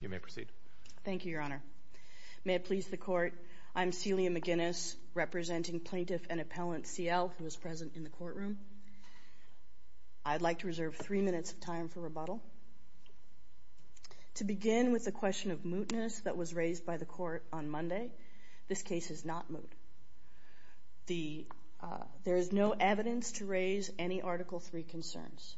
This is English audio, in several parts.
You may proceed. Thank you, Your Honor. May it please the Court, I'm Celia McGinnis, representing Plaintiff and Appellant C.L., who is present in the courtroom. I'd like to reserve three minutes of time for rebuttal. To begin with the question of mootness that was raised by the Court on Monday, this case is not moot. There is no evidence to raise any Article III concerns.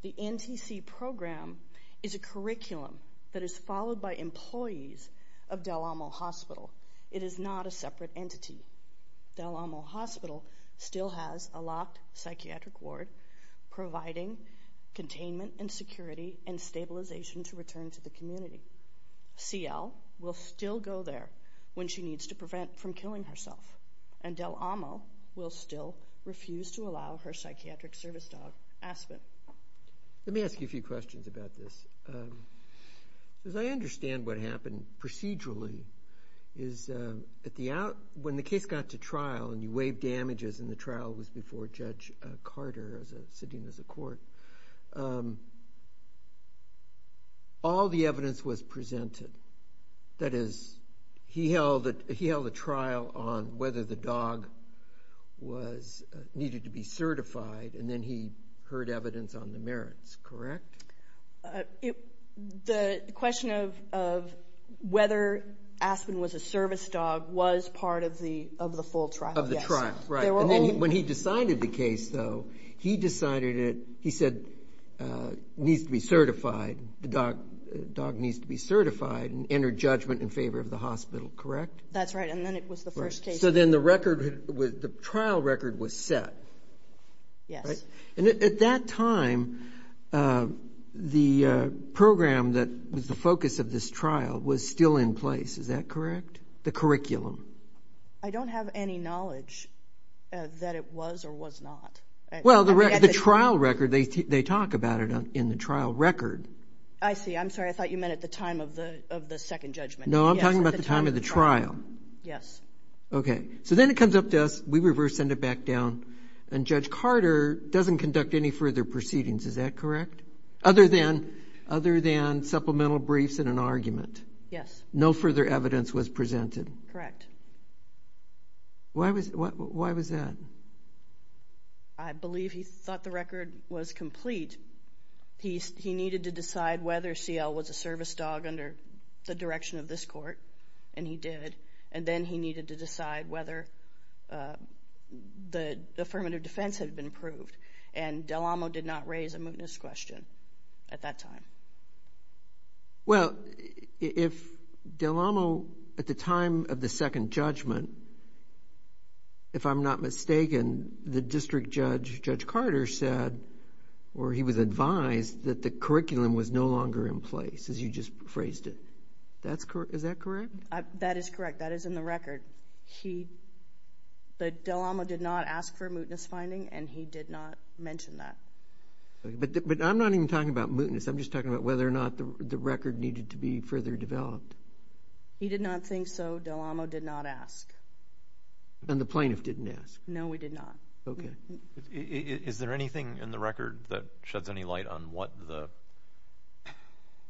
The NTC program is a curriculum that is followed by employees of Del Amo Hospital. It is not a separate entity. Del Amo Hospital still has a locked psychiatric ward providing containment and security and stabilization to return to the community. C.L. will still go there when she needs to prevent from killing herself, and Del Amo Hospital will still refuse to allow her psychiatric service dog, Aspen. Let me ask you a few questions about this. As I understand what happened procedurally, when the case got to trial and you waived damages and the trial was before Judge Carter sitting as a court, all the evidence was presented. That is, he held a trial on whether the dog needed to be certified, and then he heard evidence on the merits, correct? The question of whether Aspen was a service dog was part of the full trial, yes. When he decided the case, though, he decided it, he said, needs to be certified, the dog needs to be certified and enter judgment in favor of the hospital, correct? That's right, and then it was the first case. So then the record, the trial record was set, right? Yes. And at that time, the program that was the focus of this trial was still in place, is that correct? The curriculum. I don't have any knowledge that it was or was not. Well, the trial record, they talk about it in the trial record. I see. I'm sorry, I thought you meant at the time of the second judgment. No, I'm talking about the time of the trial. Yes. Okay. So then it comes up to us, we reverse send it back down, and Judge Carter doesn't conduct any further proceedings, is that correct? Other than supplemental briefs and an argument. Yes. No further evidence was presented. Correct. Why was that? I believe he thought the record was complete. He needed to decide whether CL was a service dog under the direction of this court, and he did. And then he needed to decide whether the affirmative defense had been approved, and Del Amo did not raise a mootness question at that time. Well, if Del Amo, at the time of the second judgment, if I'm not mistaken, the district judge, Judge Carter said, or he was advised, that the curriculum was no longer in place, as you just phrased it. Is that correct? That is correct. That is in the record. But Del Amo did not ask for a mootness finding, and he did not mention that. But I'm not even talking about mootness, I'm just talking about whether or not the record needed to be further developed. He did not think so. Del Amo did not ask. And the plaintiff didn't ask? No, he did not. Okay. Is there anything in the record that sheds any light on what the,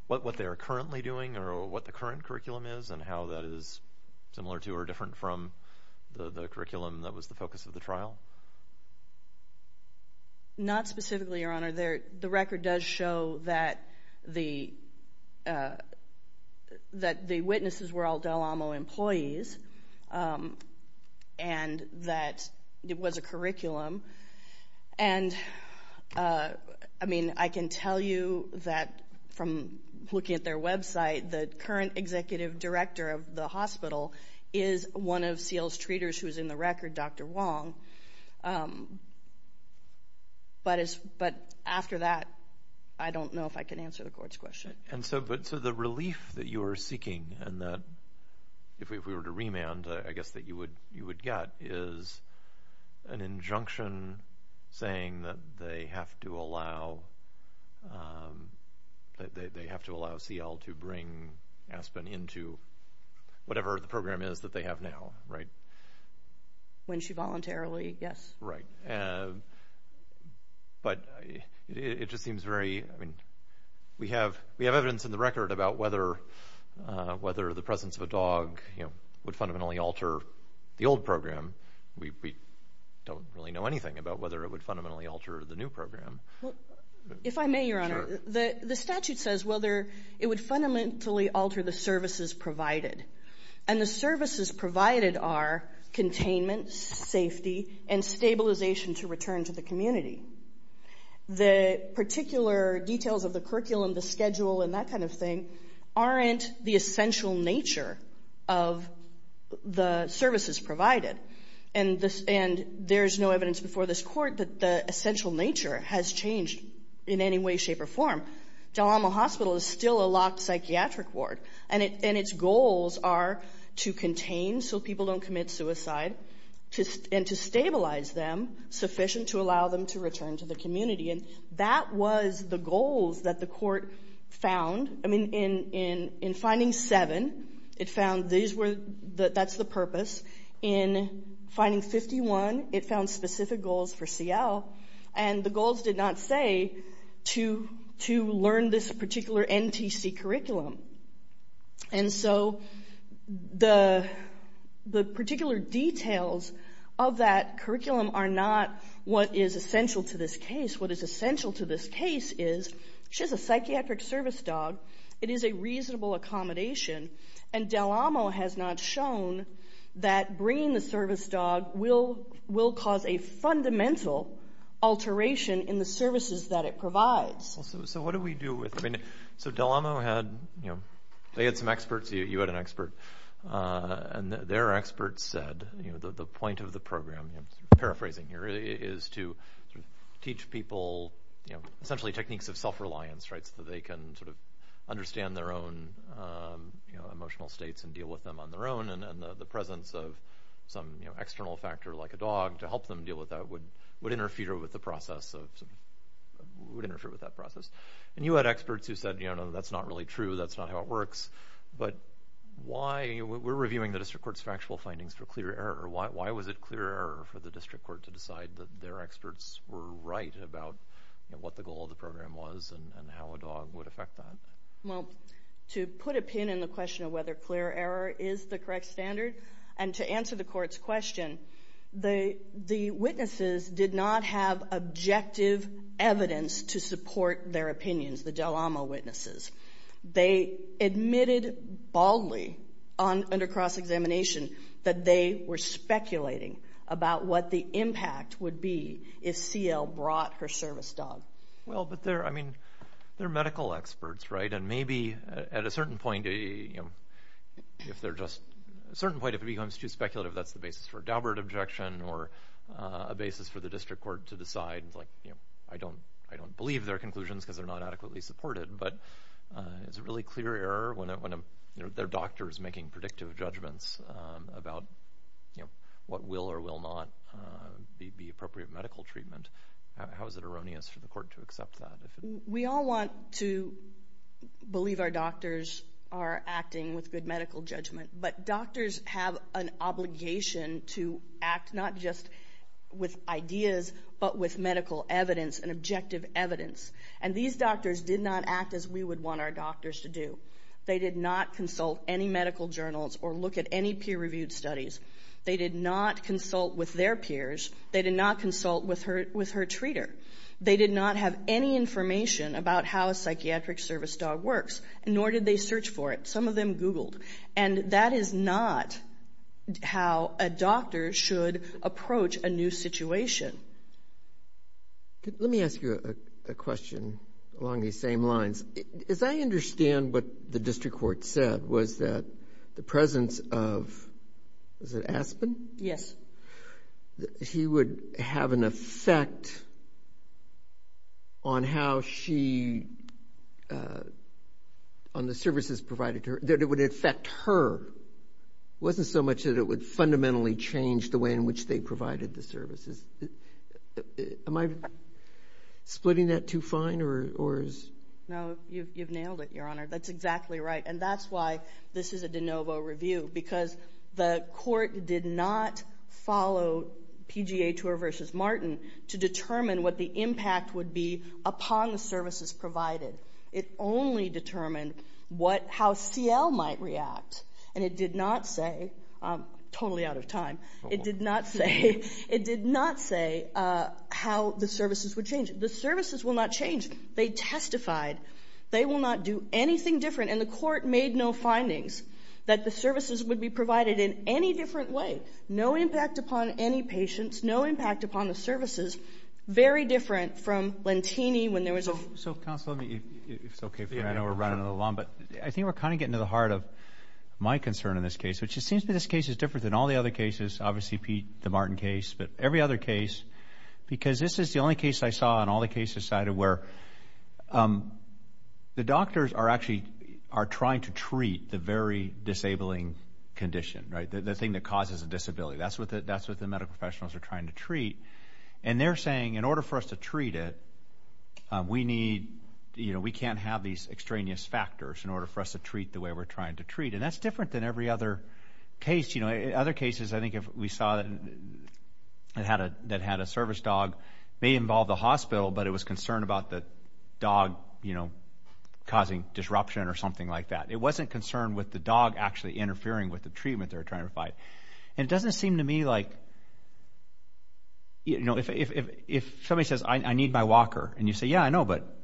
what they are currently doing, or what the current curriculum is, and how that is similar to or different from the curriculum that was the focus of the trial? Not specifically, Your Honor. The record does show that the, that the witnesses were all Del Amo employees, and that it was a curriculum. And I mean, I can tell you that from looking at their website, the current executive director of the hospital is one of Seal's treaters who is in the record, Dr. Wong. But after that, I don't know if I can answer the Court's question. And so the relief that you are seeking, and that, if we were to remand, I guess that you would get is an injunction saying that they have to allow, that they have to allow Seal to bring Aspen into whatever the program is that they have now, right? When she voluntarily, yes. Right. But it just seems very, I mean, we have, we have evidence in the record about whether, whether the presence of a dog, you know, would fundamentally alter the old program. We don't really know anything about whether it would fundamentally alter the new program. If I may, Your Honor, the statute says whether it would fundamentally alter the services provided. And the services provided are containment, safety, and stabilization to return to the community. The particular details of the curriculum, the schedule, and that kind of thing aren't the essential nature of the services provided. And this, and there's no evidence before this Court that the essential nature has changed in any way, shape, or form. Del Almo Hospital is still a locked psychiatric ward, and its goals are to contain so people don't commit suicide, and to stabilize them sufficient to allow them to return to the community. And that was the goals that the Court found. I mean, in, in, in finding seven, it found these were, that's the purpose. In finding 51, it found specific goals for Seal, and the goals did not say to, to learn this particular NTC curriculum. And so, the, the particular details of that curriculum are not what is essential to this case. What is essential to this case is, she has a psychiatric service dog, it is a reasonable accommodation, and Del Almo has not shown that bringing the service dog will, will cause a fundamental alteration in the services that it provides. So what do we do with, I mean, so Del Almo had, you know, they had some experts, you had an expert, and their expert said, you know, the, the point of the program, you know, paraphrasing here, is to teach people, you know, essentially techniques of self-reliance, right, so that they can sort of understand their own, you know, emotional states and deal with them on their own, and, and the presence of some, you know, external factor like a dog to help them deal with that would, would interfere with the process of, would interfere with that process. And you had experts who said, you know, that's not really true, that's not how it works, but why, we're reviewing the district court's factual findings for clear error, why, why was it clear error for the district court to decide that their experts were right about, you know, what the goal of the program was and, and how a dog would affect that? Well, to put a pin in the question of whether clear error is the correct standard, and to support their opinions, the Dalamo witnesses, they admitted baldly on, under cross-examination that they were speculating about what the impact would be if CL brought her service dog. Well, but they're, I mean, they're medical experts, right, and maybe at a certain point, you know, if they're just, at a certain point, if it becomes too speculative, that's the basis for a Daubert objection or a basis for the district court to decide, like, you know, I don't, I don't believe their conclusions because they're not adequately supported, but it's a really clear error when a, when a, you know, their doctor is making predictive judgments about, you know, what will or will not be, be appropriate medical treatment. How is it erroneous for the court to accept that? We all want to believe our doctors are acting with good medical judgment, but doctors have an obligation to act not just with ideas, but with medical evidence and objective evidence, and these doctors did not act as we would want our doctors to do. They did not consult any medical journals or look at any peer-reviewed studies. They did not consult with their peers. They did not consult with her, with her treater. They did not have any information about how a psychiatric service dog works, nor did they search for it. Some of them Googled, and that is not how a doctor should approach a new situation. Let me ask you a question along these same lines. As I understand what the district court said was that the presence of, was it Aspen? Yes. That he would have an effect on how she, on the services provided to her, that it would affect her, wasn't so much that it would fundamentally change the way in which they provided the services. Am I splitting that too fine, or is? No, you've nailed it, Your Honor. That's exactly right, and that's why this is a de novo review, because the court did not follow PGA Tour versus Martin to determine what the impact would be upon the services provided. It only determined what, how CL might react, and it did not say, I'm totally out of time, it did not say, it did not say how the services would change. The services will not change. They testified. They will not do anything different, and the court made no findings that the services would be provided in any different way. No impact upon any patients. No impact upon the services. Very different from Lentini when there was a... So counsel, if it's okay for me, I know we're running a little long, but I think we're kind of getting to the heart of my concern in this case, which it seems to me this case is different than all the other cases. Obviously, Pete, the Martin case, but every other case, because this is the only case I saw in all the cases cited where the doctors are actually, are trying to treat the very disabling condition, right, the thing that causes a disability. That's what the medical professionals are trying to treat, and they're saying, in order for us to treat it, we need, you know, we can't have these extraneous factors in order for us to treat the way we're trying to treat, and that's different than every other case. You know, other cases, I think if we saw that had a service dog, may involve the hospital, but it was concerned about the dog, you know, causing disruption or something like that. It wasn't concerned with the dog actually interfering with the treatment they're trying to provide, and it doesn't seem to me like, you know, if somebody says, I need my walker, and you say, yeah, I know, but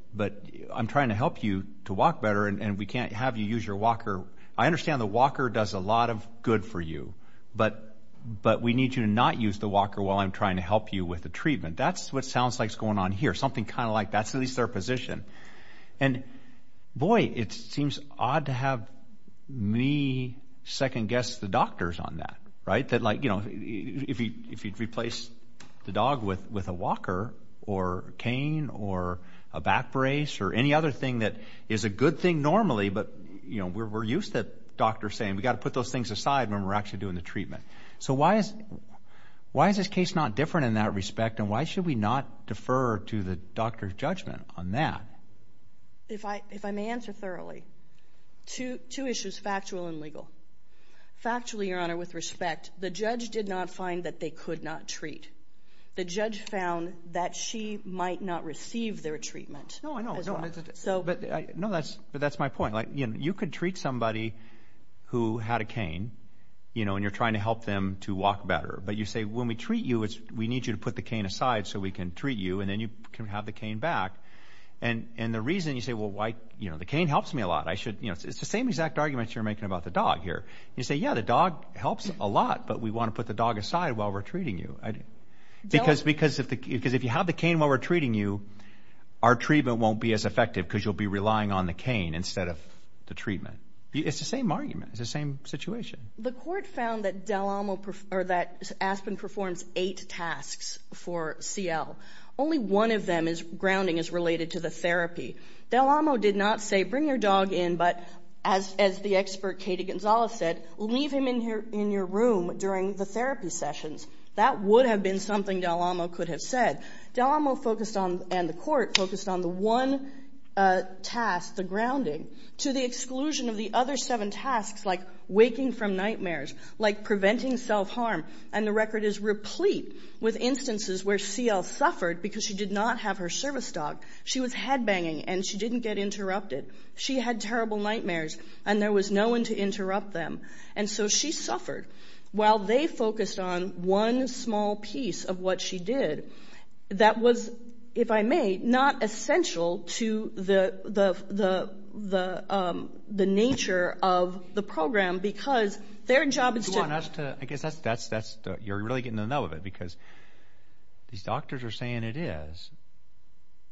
I'm trying to help you to walk better, and we can't have you use your walker. I understand the walker does a lot of good for you, but we need you to not use the walker while I'm trying to help you with the treatment. That's what sounds like is going on here, something kind of like that's at least their me second-guess the doctors on that, right? That like, you know, if you replace the dog with a walker or cane or a back brace or any other thing that is a good thing normally, but, you know, we're used to doctors saying we've got to put those things aside when we're actually doing the treatment. So why is this case not different in that respect, and why should we not defer to the doctor's judgment on that? If I may answer thoroughly, two issues, factual and legal. Factually, Your Honor, with respect, the judge did not find that they could not treat. The judge found that she might not receive their treatment. No, I know, but that's my point. Like, you know, you could treat somebody who had a cane, you know, and you're trying to help them to walk better, but you say, when we treat you, we need you to put the cane aside so we can treat you, and then you can have the cane back, and the reason you say, well, why, you know, the cane helps me a lot, I should, you know, it's the same exact argument you're making about the dog here. You say, yeah, the dog helps a lot, but we want to put the dog aside while we're treating you, because if you have the cane while we're treating you, our treatment won't be as effective because you'll be relying on the cane instead of the treatment. It's the same argument. It's the same situation. The court found that Del Amo, or that Aspen performs eight tasks for CL. Only one of them is grounding, is related to the therapy. Del Amo did not say, bring your dog in, but as the expert Katie Gonzalez said, leave him in your room during the therapy sessions. That would have been something Del Amo could have said. Del Amo focused on, and the court, focused on the one task, the grounding, to the exclusion of the other seven tasks, like waking from nightmares, like preventing self-harm, and the record is replete with instances where CL suffered because she did not have her service dog. She was headbanging, and she didn't get interrupted. She had terrible nightmares, and there was no one to interrupt them, and so she suffered while they focused on one small piece of what she did that was, if I may, not essential to the nature of the program, because their job is to... You want us to... I guess that's... You're really getting to know of it, because these doctors are saying it is,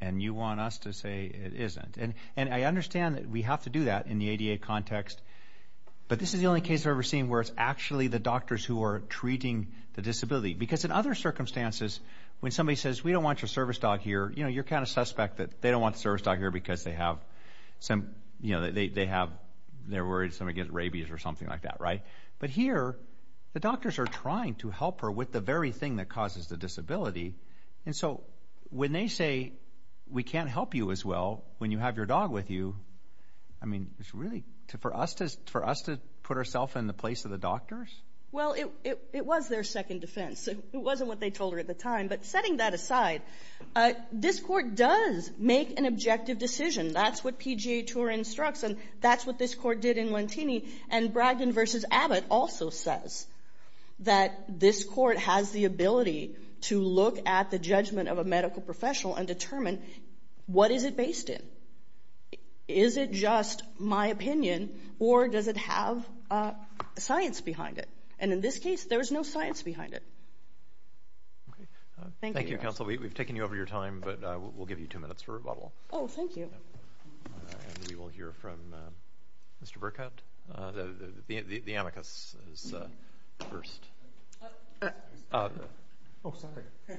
and you want us to say it isn't. And I understand that we have to do that in the ADA context, but this is the only case I've ever seen where it's actually the doctors who are treating the disability, because in other circumstances, when somebody says, we don't want your service dog here, you're kind of a suspect that they don't want the service dog here because they have, you know, they have... They're worried somebody gets rabies or something like that, right? But here, the doctors are trying to help her with the very thing that causes the disability, and so when they say, we can't help you as well when you have your dog with you, I mean, it's really... For us to put ourself in the place of the doctors? Well, it was their second defense. It wasn't what they told her at the time, but setting that aside. This court does make an objective decision. That's what PGA TOUR instructs, and that's what this court did in Lentini, and Bragdon v. Abbott also says that this court has the ability to look at the judgment of a medical professional and determine, what is it based in? Is it just my opinion, or does it have science behind it? And in this case, there's no science behind it. Thank you, counsel. We've taken you over your time, but we'll give you two minutes for rebuttal. Oh, thank you. And we will hear from Mr. Burkett. The amicus is first. Oh, sorry. Trying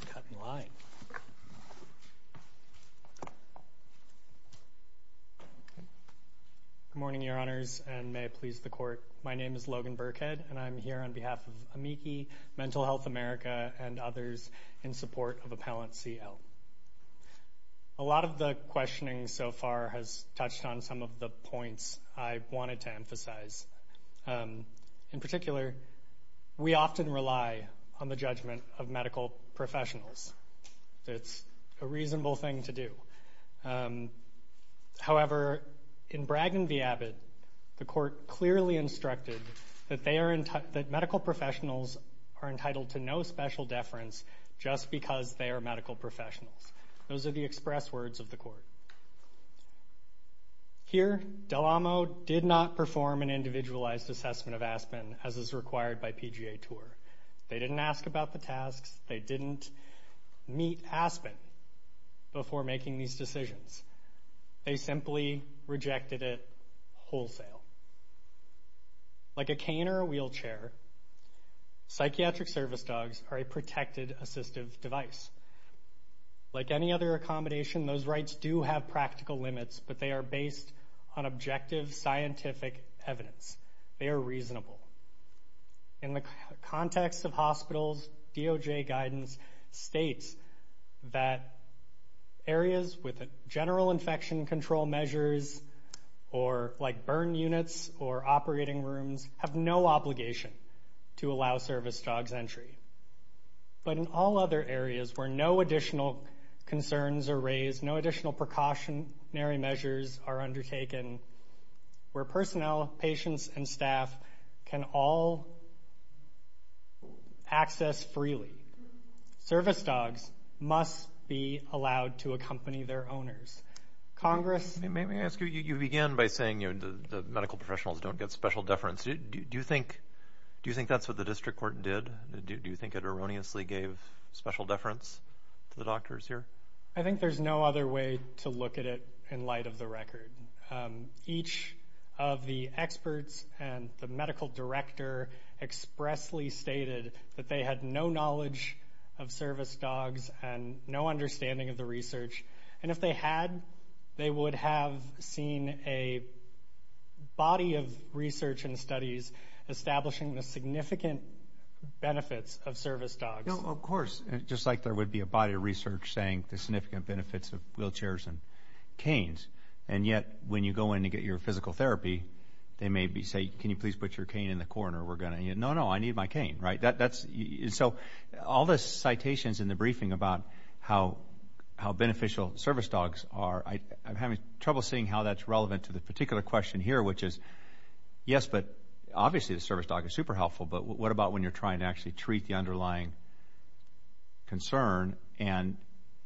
to cut in line. Good morning, Your Honors, and may it please the court. My name is Logan Burkett, and I'm here on behalf of AMICI, Mental Health America, and others in support of Appellant CL. A lot of the questioning so far has touched on some of the points I wanted to emphasize. In particular, we often rely on the judgment of medical professionals. It's a reasonable thing to do. However, in Bragg v. Abbott, the court clearly instructed that medical professionals are entitled to no special deference just because they are medical professionals. Those are the express words of the court. Here, Del Amo did not perform an individualized assessment of aspen as is required by PGA TOUR. They didn't ask about the tasks. They didn't meet aspen before making these decisions. They simply rejected it wholesale. Like a cane or a wheelchair, psychiatric service dogs are a protected assistive device. Like any other accommodation, those rights do have practical limits, but they are based on objective scientific evidence. They are reasonable. In the context of hospitals, DOJ guidance states that areas with general infection control measures, like burn units or operating rooms, have no obligation to allow service dogs entry. But in all other areas where no additional concerns are raised, no additional precautionary measures are undertaken, where personnel, patients, and staff can all access freely, service dogs must be allowed to accompany their owners. Congress— Let me ask you. You began by saying the medical professionals don't get special deference. Do you think that's what the district court did? Do you think it erroneously gave special deference to the doctors here? I think there's no other way to look at it in light of the record. Each of the experts and the medical director expressly stated that they had no knowledge of service dogs and no understanding of the research, and if they had, they would have seen a body of research and studies establishing the significant benefits of service dogs. Of course, just like there would be a body of research saying the significant benefits of wheelchairs and canes. And yet, when you go in to get your physical therapy, they may say, can you please put your cane in the corner? We're going to— No, no, I need my cane. So all the citations in the briefing about how beneficial service dogs are, I'm having trouble seeing how that's relevant to the particular question here, which is, yes, but obviously the service dog is super helpful, but what about when you're trying to actually treat the underlying concern, and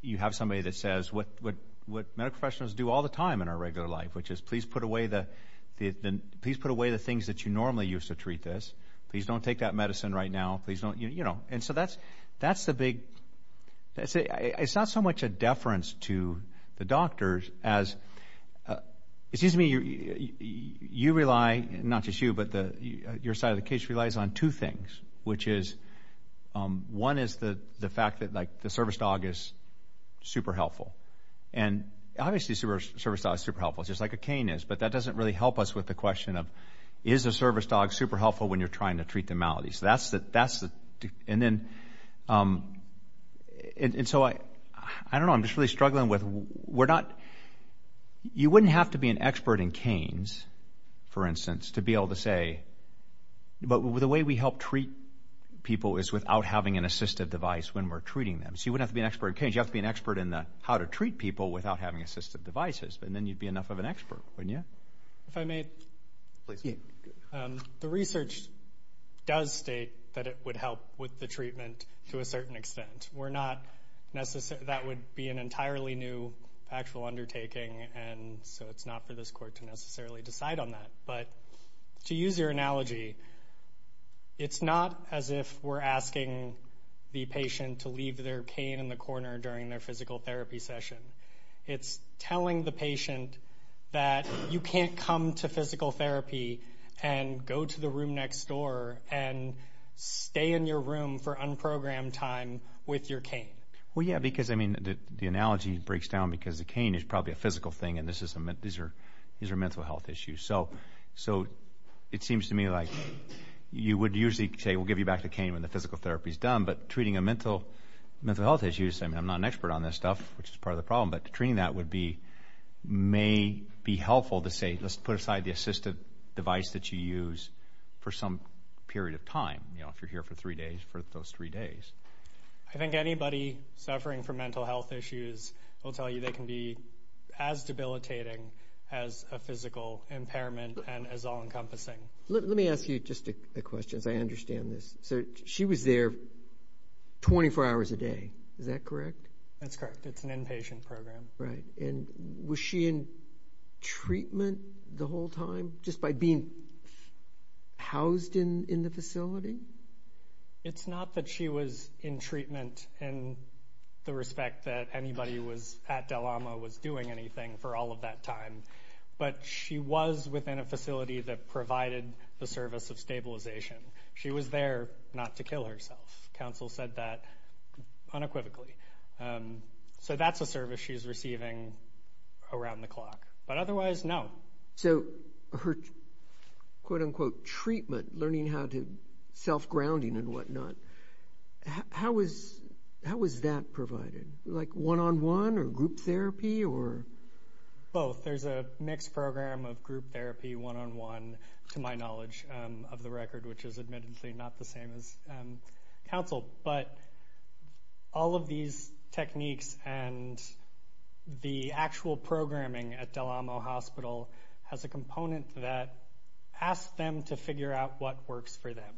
you have somebody that says what medical professionals do all the time in our regular life, which is, please put away the things that you normally used to treat this. Please don't take that medicine right now. Please don't, you know, and so that's the big—it's not so much a deference to the doctors as, excuse me, you rely, not just you, but your side of the case relies on two things, which is, one is the fact that, like, the service dog is super helpful. And obviously the service dog is super helpful, just like a cane is, but that doesn't really help us with the question of, is the service dog super helpful when you're trying to treat the malady? So that's the—and then, and so I don't know, I'm just really struggling with, we're not—you wouldn't have to be an expert in canes, for instance, to be able to say, but the way we help treat people is without having an assistive device when we're treating them. So you wouldn't have to be an expert in canes, you'd have to be an expert in the how to treat people without having assistive devices, and then you'd be enough of an expert, wouldn't you? If I may? Please. The research does state that it would help with the treatment to a certain extent. We're not necessarily—that would be an entirely new actual undertaking, and so it's not for this court to necessarily decide on that. But to use your analogy, it's not as if we're asking the patient to leave their cane in the corner during their physical therapy session. It's telling the patient that you can't come to physical therapy and go to the room next door and stay in your room for unprogrammed time with your cane. Well, yeah, because, I mean, the analogy breaks down because the cane is probably a physical thing, and these are mental health issues. So it seems to me like you would usually say, we'll give you back the cane when the physical therapy is done, but treating a mental health issue—I mean, I'm not an expert on this stuff, which is part of the problem, but treating that would be—may be helpful to say, let's put aside the assistive device that you use for some period of time, you know, if you're here for three days, for those three days. I think anybody suffering from mental health issues will tell you they can be as impairment and as all-encompassing. Let me ask you just a question, as I understand this. So she was there 24 hours a day, is that correct? That's correct. It's an inpatient program. Right. And was she in treatment the whole time, just by being housed in the facility? It's not that she was in treatment in the respect that anybody was—at DeLama was doing anything for all of that time, but she was within a facility that provided the service of stabilization. She was there not to kill herself. Counsel said that unequivocally. So that's a service she's receiving around the clock, but otherwise, no. So her, quote-unquote, treatment, learning how to—self-grounding and whatnot, how was that provided? Like one-on-one or group therapy? Both. There's a mixed program of group therapy, one-on-one, to my knowledge of the record, which is admittedly not the same as counsel. But all of these techniques and the actual programming at DeLamo Hospital has a component that asks them to figure out what works for them.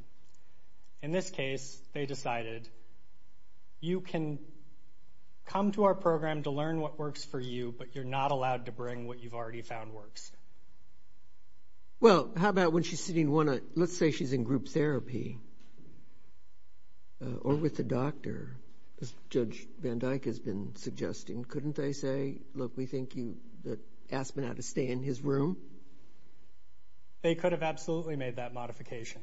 In this case, they decided, you can come to our program to learn what works for you, but you're not allowed to bring what you've already found works. Well, how about when she's sitting one—let's say she's in group therapy, or with the doctor, as Judge Van Dyke has been suggesting. Couldn't they say, look, we think you—ask him how to stay in his room? They could have absolutely made that modification.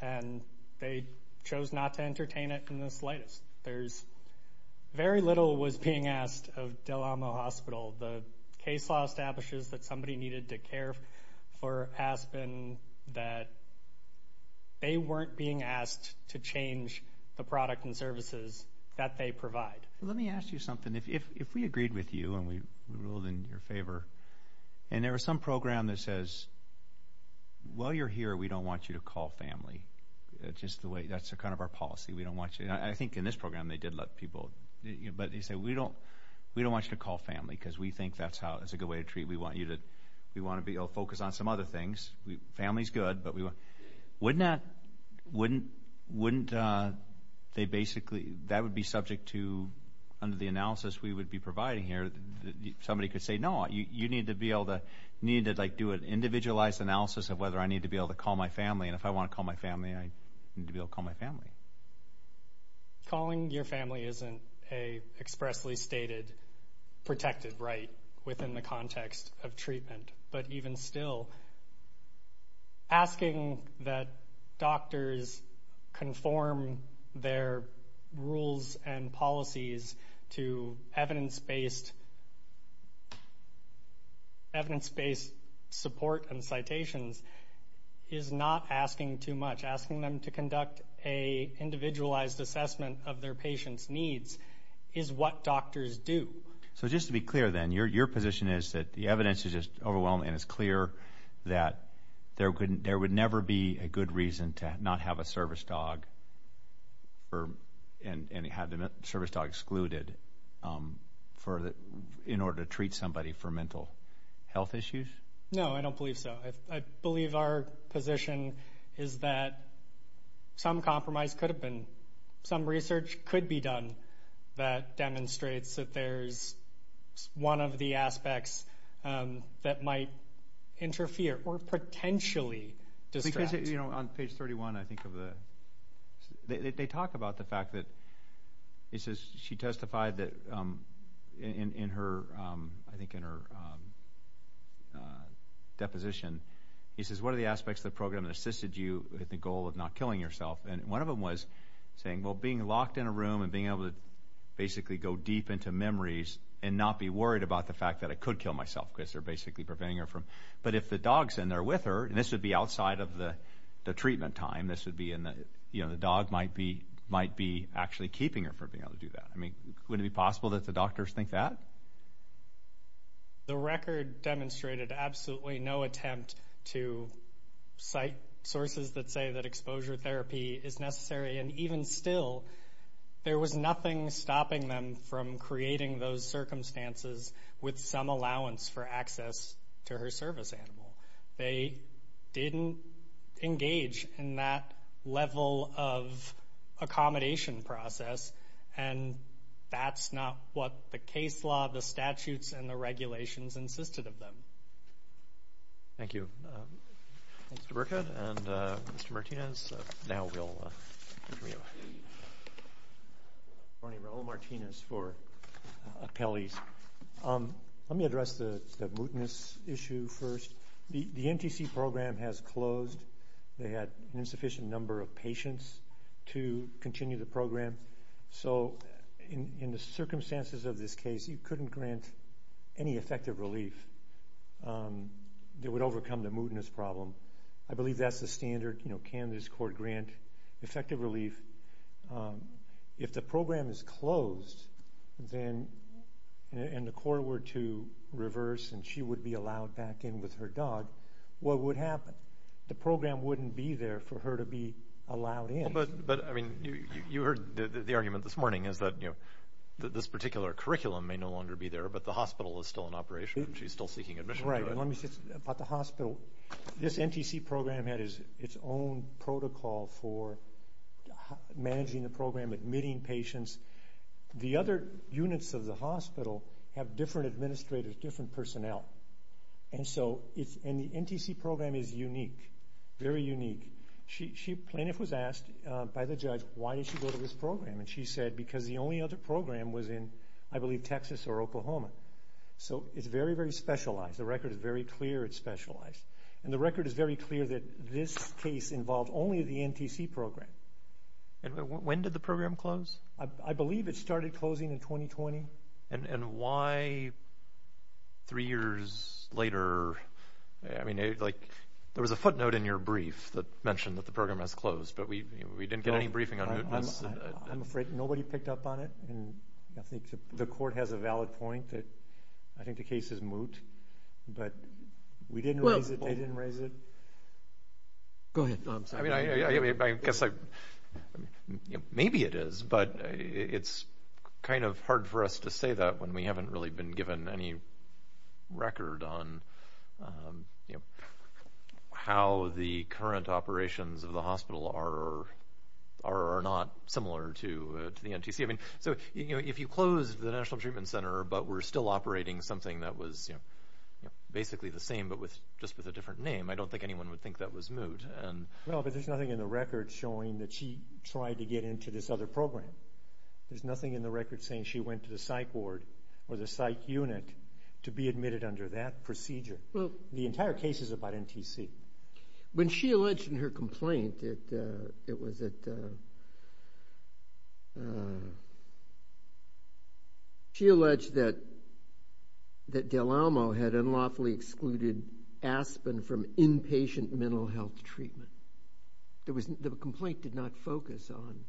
And they chose not to entertain it in the slightest. There's—very little was being asked of DeLamo Hospital. The case law establishes that somebody needed to care for Aspen, that they weren't being asked to change the product and services that they provide. Let me ask you something. If we agreed with you and we ruled in your favor, and there was some program that says, while you're here, we don't want you to call family, just the way—that's kind of our policy. We don't want you—I think in this program, they did let people—but they said, we don't want you to call family, because we think that's how—it's a good way to treat—we want you to—we want to be able to focus on some other things. Family's good, but we want—wouldn't that—wouldn't they basically—that would be subject to—under the analysis we would be providing here, somebody could say, no, you need to be able to—need to do an individualized analysis of whether I need to be able to call my family, and if I want to call my family, I need to be able to call my family. Calling your family isn't an expressly stated, protected right within the context of treatment, but even still, asking that doctors conform their rules and policies to evidence-based—evidence-based support and citations is not asking too much. Asking them to conduct an individualized assessment of their patients' needs is what doctors do. So just to be clear then, your position is that the evidence is just overwhelming, and it's clear that there would never be a good reason to not have a service dog and have the service dog excluded in order to treat somebody for mental health issues? No, I don't believe so. I believe our position is that some compromise could have been—some research could be done that demonstrates that there's one of the aspects that might interfere or potentially distract. You know, on page 31, I think of the—they talk about the fact that—she testified that in her—I think in her deposition, he says, what are the aspects of the program that assisted you with the goal of not killing yourself? And one of them was saying, well, being locked in a room and being able to basically go deep into memories and not be worried about the fact that I could kill myself, because they're basically preventing her from—but if the dog's in there with her, and this would be outside of the treatment time, this would be in the—you know, the dog might be actually keeping her from being able to do that. I mean, wouldn't it be possible that the doctors think that? The record demonstrated absolutely no attempt to cite sources that say that exposure therapy is necessary, and even still, there was nothing stopping them from creating those circumstances with some allowance for access to her service animal. They didn't engage in that level of accommodation process, and that's not what the case law, the statutes, and the regulations insisted of them. Thank you, Mr. Burkett. And Mr. Martinez, now we'll hear from you. My name is Raul Martinez for Apelles. Let me address the mootness issue first. The NTC program has closed. They had an insufficient number of patients to continue the program, so in the circumstances of this case, you couldn't grant any effective relief that would overcome the mootness problem. I believe that's the standard. You know, can this court grant effective relief? If the program is closed, and the court were to reverse and she would be allowed back in with her dog, what would happen? The program wouldn't be there for her to be allowed in. But, I mean, you heard the argument this morning is that this particular curriculum may no longer be there, but the hospital is still in operation, and she's still seeking admission. Right. About the hospital, this NTC program had its own protocol for managing the program, admitting patients. The other units of the hospital have different administrators, different personnel, and the NTC program is unique, very unique. Plaintiff was asked by the judge, why did she go to this program? And she said, because the only other program was in, I believe, Texas or Oklahoma. So it's very, very specialized. The record is very clear it's specialized. And the record is very clear that this case involved only the NTC program. And when did the program close? I believe it started closing in 2020. And why, three years later, I mean, like, there was a footnote in your brief that mentioned that the program has closed, but we didn't get any briefing on mootness. I'm afraid nobody picked up on it, and I think the court has a valid point that I think the case is moot. But we didn't raise it. They didn't raise it. Go ahead, I'm sorry. I mean, I guess maybe it is, but it's kind of hard for us to say that when we haven't really been given any record on how the current operations of the hospital are not similar to the NTC. I mean, so if you close the National Treatment Center, but we're still operating something that was basically the same, but just with a different name, I don't think anyone would think that was moot. No, but there's nothing in the record showing that she tried to get into this other program. There's nothing in the record saying she went to the psych ward or the psych unit to be admitted under that procedure. Well, the entire case is about NTC. When she alleged in her complaint that Del Almo had unlawfully excluded Aspen from inpatient mental health treatment, the complaint did not focus on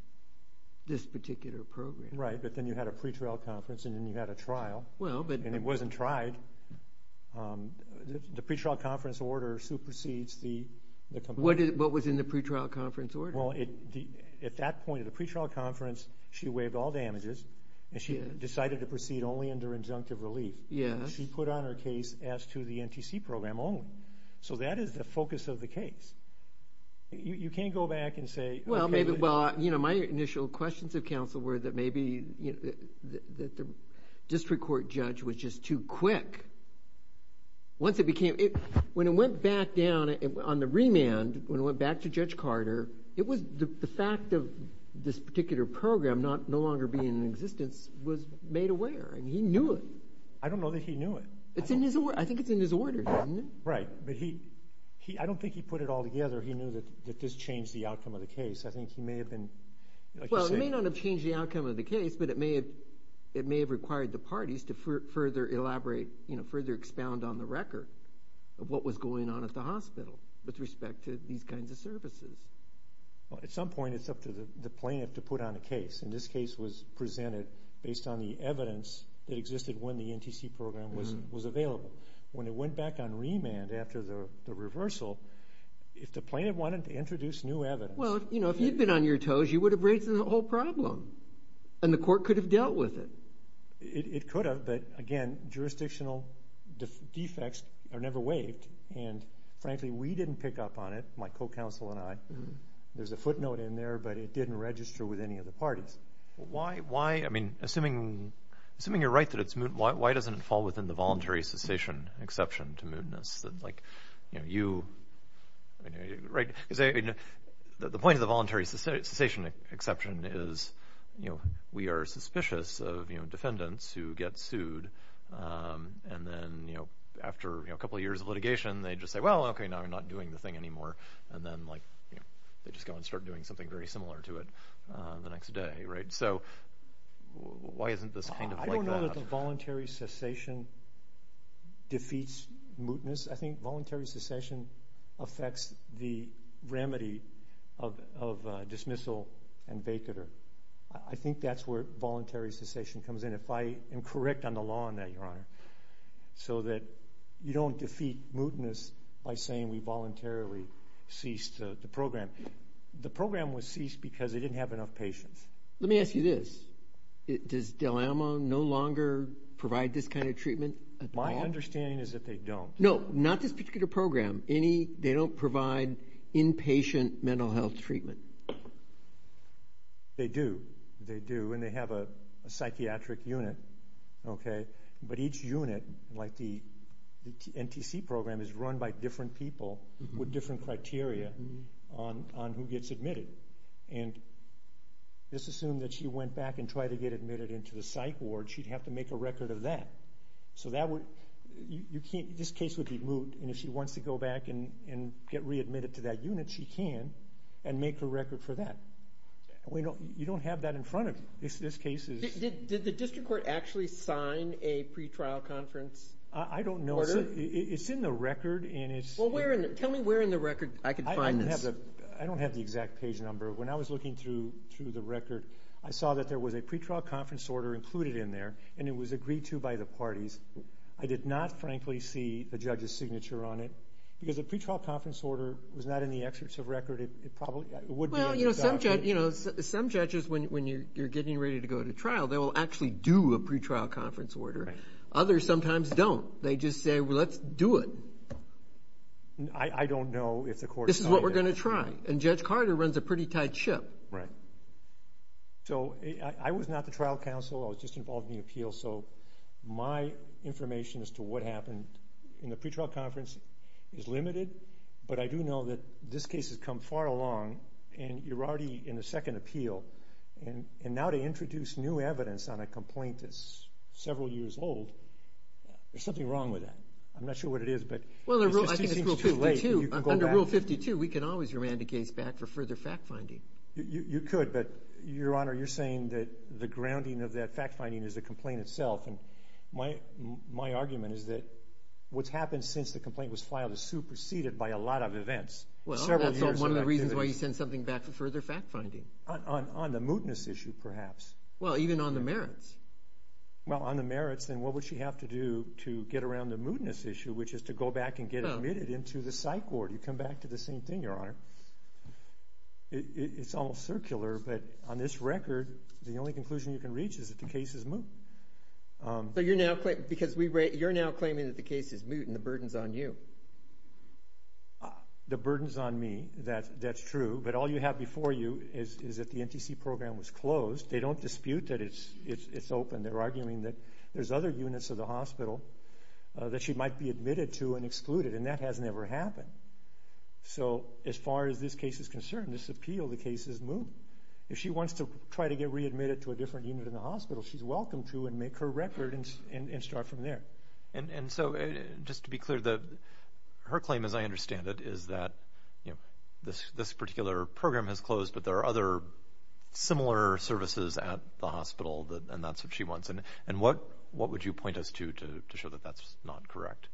this particular program. Right, but then you had a pretrial conference, and then you had a trial, and it wasn't tried. The pretrial conference order supersedes the complaint. What was in the pretrial conference order? Well, at that point of the pretrial conference, she waived all damages, and she decided to proceed only under injunctive relief. Yes. She put on her case as to the NTC program only. So that is the focus of the case. You can't go back and say— Well, my initial questions of counsel were that maybe the district court judge was just too quick. When it went back down on the remand, when it went back to Judge Carter, it was the fact of this particular program no longer being in existence was made aware, and he knew it. I don't know that he knew it. It's in his—I think it's in his order, isn't it? Right, but I don't think he put it all together. He knew that this changed the outcome of the case. I think he may have been— Well, it may not have changed the outcome of the case, but it may have required the further expound on the record of what was going on at the hospital with respect to these kinds of services. Well, at some point, it's up to the plaintiff to put on a case, and this case was presented based on the evidence that existed when the NTC program was available. When it went back on remand after the reversal, if the plaintiff wanted to introduce new evidence— Well, if you'd been on your toes, you would have raised the whole problem, and the court could have dealt with it. It could have, but again, jurisdictional defects are never waived, and frankly, we didn't pick up on it, my co-counsel and I. There's a footnote in there, but it didn't register with any of the parties. Assuming you're right that it's moot, why doesn't it fall within the voluntary cessation exception to mootness? The point of the voluntary cessation exception is we are suspicious of defendants who get sued, and then after a couple of years of litigation, they just say, well, okay, now we're not doing the thing anymore, and then they just go and start doing something very similar to it the next day. Why isn't this kind of like that? The voluntary cessation defeats mootness. I think voluntary cessation affects the remedy of dismissal and vacatur. I think that's where voluntary cessation comes in, if I am correct on the law on that, Your Honor, so that you don't defeat mootness by saying we voluntarily ceased the program. The program was ceased because they didn't have enough patience. Let me ask you this. Does Del Amo no longer provide this kind of treatment at all? My understanding is that they don't. No, not this particular program. They don't provide inpatient mental health treatment. They do, and they have a psychiatric unit, but each unit, like the NTC program, is run by different people with different criteria on who gets admitted. And let's assume that she went back and tried to get admitted into the psych ward, she'd have to make a record of that. This case would be moot, and if she wants to go back and get readmitted to that unit, she can, and make a record for that. You don't have that in front of you. Did the district court actually sign a pre-trial conference order? I don't know. It's in the record. Tell me where in the record I can find this. I don't have the exact page number. When I was looking through the record, I saw that there was a pre-trial conference order included in there, and it was agreed to by the parties. I did not, frankly, see the judge's signature on it, because the pre-trial conference order was not in the excerpts of record. Some judges, when you're getting ready to go to trial, they will actually do a pre-trial conference order. Others sometimes don't. They just say, well, let's do it. I don't know if the court signed it. This is what we're going to try. Judge Carter runs a pretty tight ship. I was not the trial counsel. I was just involved in the appeal. My information as to what happened in the pre-trial conference is limited, but I do know that this case has come far along, and you're already in the second appeal. Now to introduce new evidence on a complaint that's several years old, there's something wrong with that. I'm not sure what it is, but it just seems too late. Under Rule 52, we can always remand a case back for further fact-finding. You could, but, Your Honor, you're saying that the grounding of that fact-finding is a complaint itself. My argument is that what's happened since the complaint was filed is superseded by a lot of events. Well, that's one of the reasons why you send something back for further fact-finding. On the mootness issue, perhaps. Well, even on the merits. Well, on the merits, then what would she have to do to get around the mootness issue, which is to go back and get admitted into the psych ward? You come back to the same thing, Your Honor. It's almost circular, but on this record, the only conclusion you can reach is that the case is moot. You're now claiming that the case is moot, and the burden's on you. The burden's on me, that's true, but all you have before you is that the NTC program was closed. They don't dispute that it's open. They're arguing that there's other units of the hospital that she might be admitted to and excluded, and that has never happened. As far as this case is concerned, this appeal, the case is moot. If she wants to try to get readmitted to a different unit in the hospital, she's welcome to and make her record and start from there. Just to be clear, her claim, as I understand it, is that this particular program has closed, but there are other similar services at the hospital, and that's what she wants. And what would you point us to to show that that's not correct?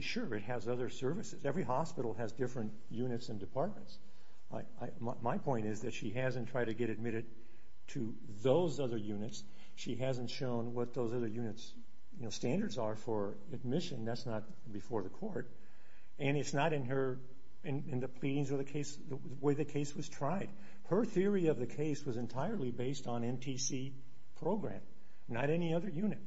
Sure, it has other services. Every hospital has different units and departments. My point is that she hasn't tried to get admitted to those other units. She hasn't shown what those other units' standards are for admission. That's not before the court. It's not in the pleadings or the way the case was tried. Her theory of the case was entirely based on NTC program, not any other unit.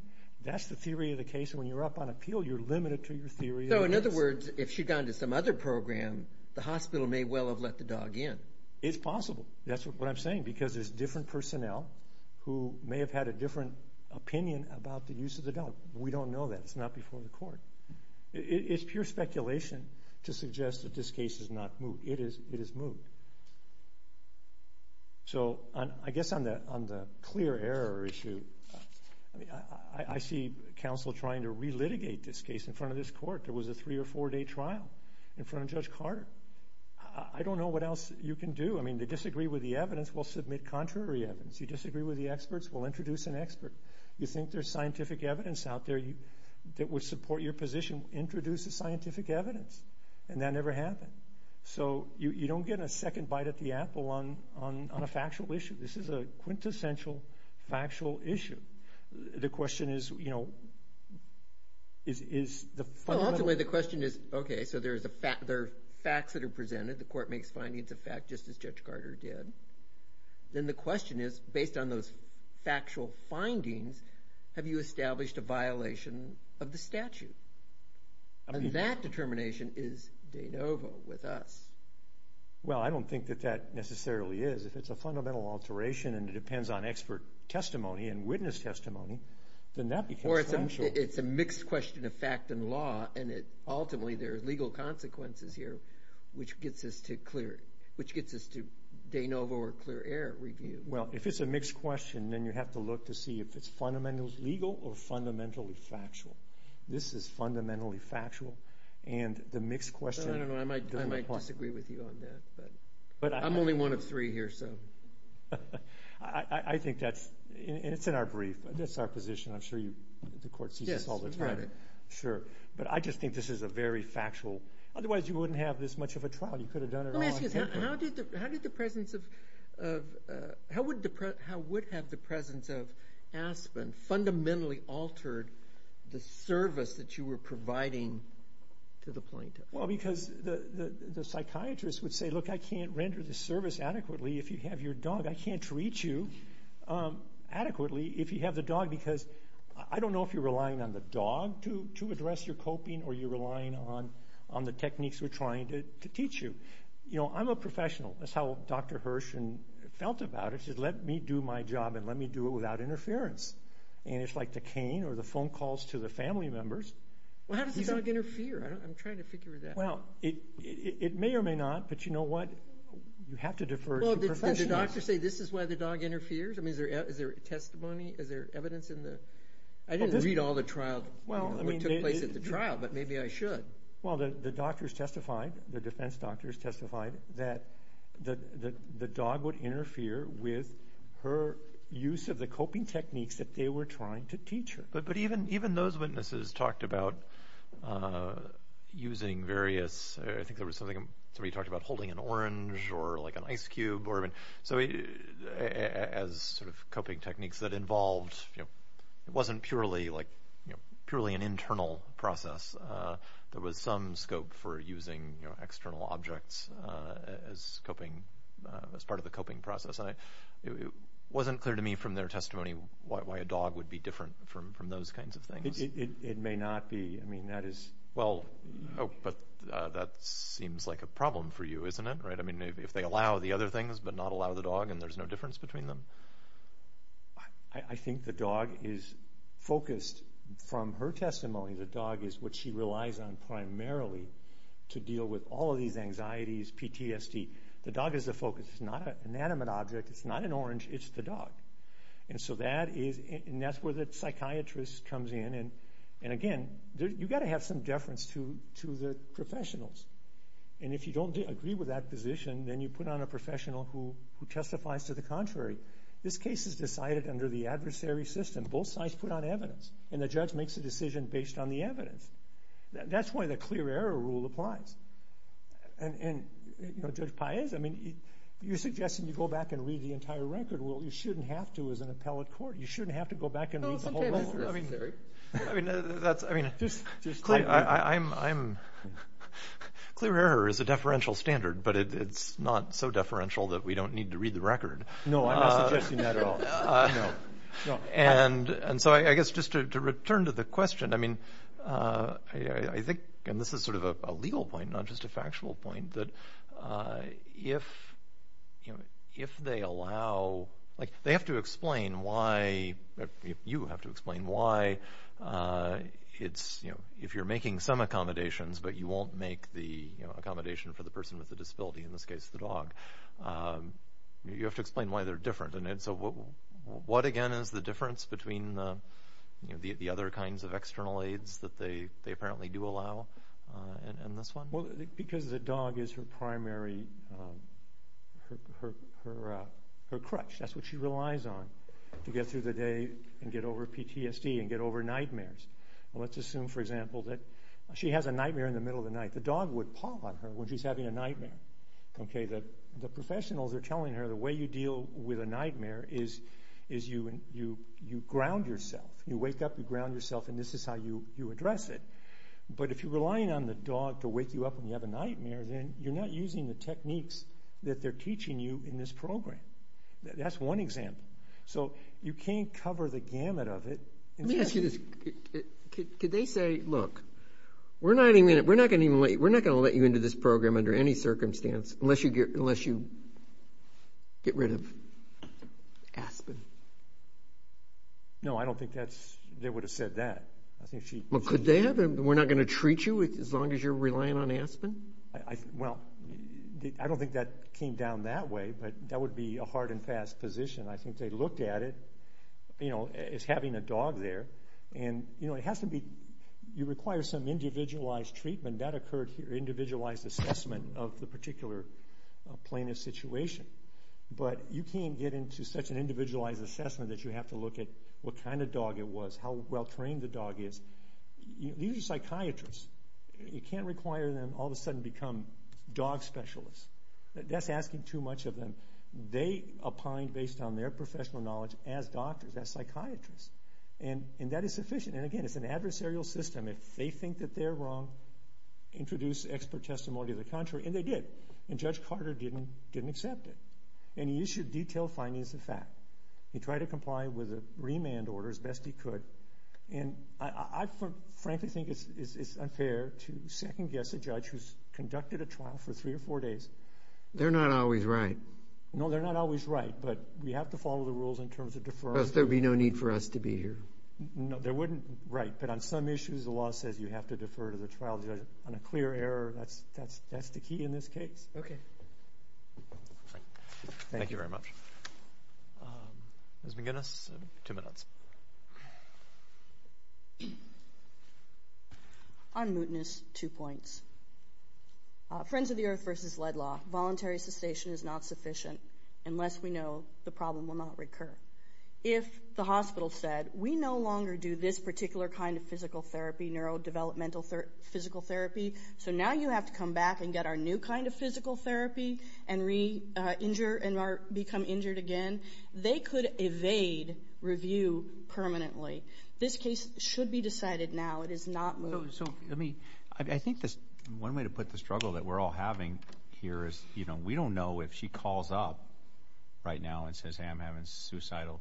That's the theory of the case. When you're up on appeal, you're limited to your theory. So, in other words, if she'd gone to some other program, the hospital may well have let the dog in. It's possible. That's what I'm saying, because there's different personnel who may have had a different opinion about the use of the dog. We don't know that. It's not before the court. It's pure speculation to suggest that this case is not moved. It is moved. So, I guess on the clear error issue, I see counsel trying to re-litigate this case in front of this court. There was a three or four day trial in front of Judge Carter. I don't know what else you can do. I mean, to disagree with the evidence, we'll submit contrary evidence. You disagree with the experts, we'll introduce an expert. You think there's scientific evidence out there that would support your position, introduce the scientific evidence. And that never happened. So, you don't get a second bite at the apple on a factual issue. This is a quintessential factual issue. The question is, you know, is the fundamental- Well, ultimately, the question is, okay, so there are facts that are presented. The court makes findings of fact, just as Judge Carter did. Then the question is, based on those factual findings, have you established a violation of the statute? And that determination is de novo with us. Well, I don't think that that necessarily is. If it's a fundamental alteration and it depends on expert testimony and witness testimony, then that becomes factual. It's a mixed question of fact and law. Ultimately, there are legal consequences here, which gets us to de novo or clear air review. Well, if it's a mixed question, then you have to look to see if it's fundamentally legal or fundamentally factual. This is fundamentally factual and the mixed question- I don't know. I might disagree with you on that. I'm only one of three here, so. I think that's, and it's in our brief. I'm sure the court sees this all the time. Sure. But I just think this is a very factual. Otherwise, you wouldn't have this much of a trial. You could have done it- Let me ask you this. How did the presence of, how would have the presence of Aspen fundamentally altered the service that you were providing to the plaintiff? Well, because the psychiatrist would say, look, I can't render the service adequately if you have your dog. I can't treat you adequately if you have the dog because I don't know if you're relying on the dog to address your coping or you're relying on the techniques we're trying to teach you. You know, I'm a professional. That's how Dr. Hirsch and felt about it. Just let me do my job and let me do it without interference. And it's like the cane or the phone calls to the family members. Well, how does the dog interfere? I'm trying to figure that out. Well, it may or may not, but you know what? You have to defer to professionals. Did the doctor say this is why the dog interferes? I mean, is there testimony? Is there evidence in the- I didn't read all the trial, what took place at the trial, but maybe I should. Well, the doctors testified, the defense doctors testified that the dog would interfere with her use of the coping techniques that they were trying to teach her. But even those witnesses talked about using various, I think there was something, somebody talked about holding an orange or like an ice cube or, I mean, so as sort of coping techniques that involved, it wasn't purely like purely an internal process. There was some scope for using external objects as part of the coping process. And it wasn't clear to me from their testimony why a dog would be different from those kinds of things. It may not be. I mean, that is- Well, but that seems like a problem for you, isn't it? Right? I mean, if they allow the other things but not allow the dog and there's no difference between them. I think the dog is focused, from her testimony, the dog is what she relies on primarily to deal with all of these anxieties, PTSD. The dog is the focus. It's not an inanimate object. It's not an orange. It's the dog. And so that is, and that's where the psychiatrist comes in. And again, you've got to have some deference to the professionals. And if you don't agree with that position, then you put on a professional who testifies to the contrary. This case is decided under the adversary system. Both sides put on evidence. And the judge makes a decision based on the evidence. That's why the clear error rule applies. And, you know, Judge Paez, I mean, you're suggesting you go back and read the entire record. Well, you shouldn't have to as an appellate court. You shouldn't have to go back and read the whole record. Well, I mean, that's, I mean, I'm, clear error is a deferential standard, but it's not so No, I'm not suggesting that at all. And so I guess just to return to the question, I mean, I think, and this is sort of a legal point, not just a factual point, that if, you know, if they allow, like, they have to explain why, you have to explain why it's, you know, if you're making some accommodations, but you won't make the accommodation for the person with the disability, in this case, the dog, you have to explain why they're different. And so what, again, is the difference between, you know, the other kinds of external aids that they apparently do allow in this one? Well, because the dog is her primary, her crutch. That's what she relies on to get through the day and get over PTSD and get over nightmares. Let's assume, for example, that she has a nightmare in the middle of the night. The dog would paw on her when she's having a nightmare. Okay, the professionals are telling her the way you deal with a nightmare is you ground yourself. You wake up, you ground yourself, and this is how you address it. But if you're relying on the dog to wake you up when you have a nightmare, then you're not using the techniques that they're teaching you in this program. That's one example. So you can't cover the gamut of it. Let me ask you this. Could they say, look, we're not even, we're not going to let you into this program under any circumstance, unless you get rid of Aspen? No, I don't think that's, they would have said that. I think she... Well, could they have? We're not going to treat you as long as you're relying on Aspen? Well, I don't think that came down that way, but that would be a hard and fast position. I think they looked at it, you know, as having a dog there. And, you know, it has to be, you require some individualized treatment. That occurred here, individualized assessment of the particular plaintiff's situation. But you can't get into such an individualized assessment that you have to look at what kind of dog it was, how well trained the dog is. These are psychiatrists. You can't require them all of a sudden to become dog specialists. That's asking too much of them. They opined based on their professional knowledge as doctors, as psychiatrists. And that is sufficient. And again, it's an adversarial system. If they think that they're wrong, introduce expert testimony of the contrary. And they did. And Judge Carter didn't accept it. And he issued detailed findings of fact. He tried to comply with a remand order as best he could. And I frankly think it's unfair to second guess a judge who's conducted a trial for three or four days. They're not always right. No, they're not always right. But we have to follow the rules in terms of deferral. There'd be no need for us to be here. No, there wouldn't. Right. But on some issues, the law says you have to defer to the trial judge. On a clear error, that's the key in this case. OK. Thank you very much. Ms. McGinnis, two minutes. On mootness, two points. Friends of the Earth versus lead law. Voluntary cessation is not sufficient unless we know the problem will not recur. If the hospital said, we no longer do this particular kind of physical therapy, neurodevelopmental physical therapy, so now you have to come back and get our new kind of physical therapy and re-injure and become injured again, they could evade review permanently. This case should be decided now. It is not moot. So, I mean, I think one way to put the struggle that we're all having here is, you know, we don't know if she calls up right now and says, hey, I'm having suicidal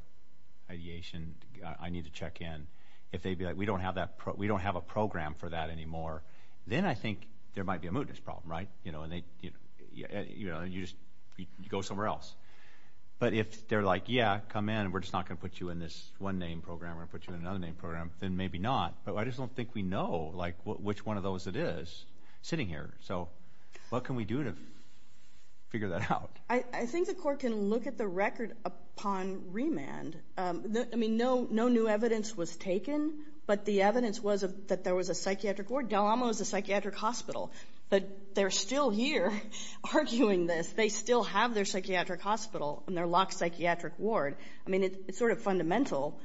ideation, I need to check in. If they'd be like, we don't have a program for that anymore, then I think there might be a mootness problem, right? You know, and you just go somewhere else. But if they're like, yeah, come in, we're just not going to put you in this one name program or put you in another name program, then maybe not. But I just don't think we know, like, which one of those it is sitting here. So what can we do to figure that out? I think the court can look at the record upon remand. I mean, no new evidence was taken, but the evidence was that there was a psychiatric ward. Del Amo is a psychiatric hospital, but they're still here arguing this. They still have their psychiatric hospital and their locked psychiatric ward. I mean, it's sort of fundamental.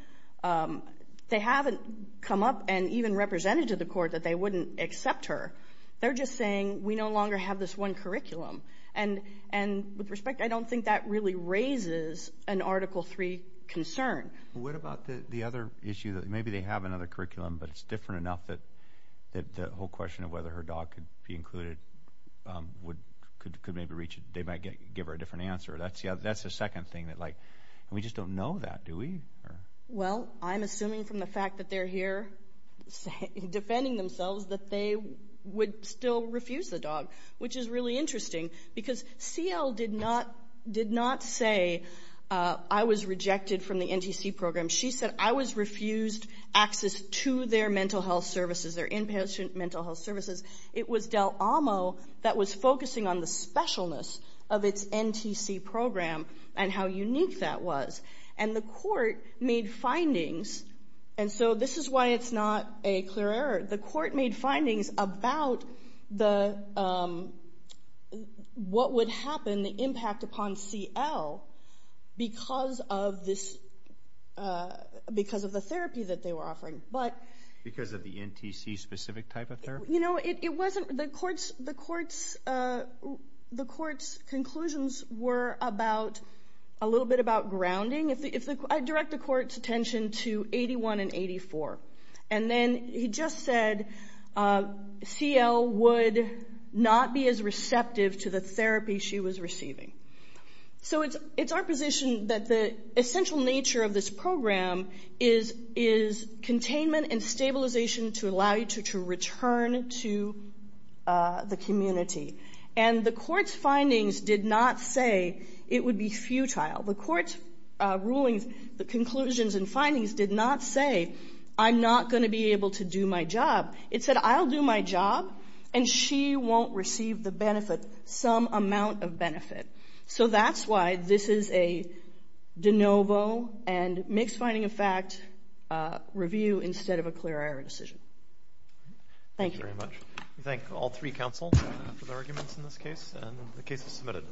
They haven't come up and even represented to the court that they wouldn't accept her. They're just saying, we no longer have this one curriculum. And with respect, I don't think that really raises an Article III concern. What about the other issue? Maybe they have another curriculum, but it's different enough that the whole question of whether her dog could be included could maybe reach, they might give her a different answer. That's the second thing that, like, we just don't know that, do we? Well, I'm assuming from the fact that they're here defending themselves that they would still refuse the dog, which is really interesting. CL did not say, I was rejected from the NTC program. She said, I was refused access to their mental health services, their inpatient mental health services. It was Del Amo that was focusing on the specialness of its NTC program and how unique that was. And the court made findings, and so this is why it's not a clear error. The court made findings about the, what would happen, the impact upon CL because of this, because of the therapy that they were offering. But. Because of the NTC specific type of therapy? You know, it wasn't, the court's, the court's, the court's conclusions were about, a little bit about grounding. I direct the court's attention to 81 and 84. And then he just said, CL would not be as receptive to the therapy she was receiving. So it's, it's our position that the essential nature of this program is, is containment and stabilization to allow you to return to the community. And the court's findings did not say it would be futile. The court's rulings, the conclusions and findings did not say, I'm not going to be able to do my job. It said, I'll do my job and she won't receive the benefit, some amount of benefit. So that's why this is a de novo and mixed finding of fact review instead of a clear error decision. Thank you. Thank you very much. We thank all three counsels for their arguments in this case, and the case is submitted.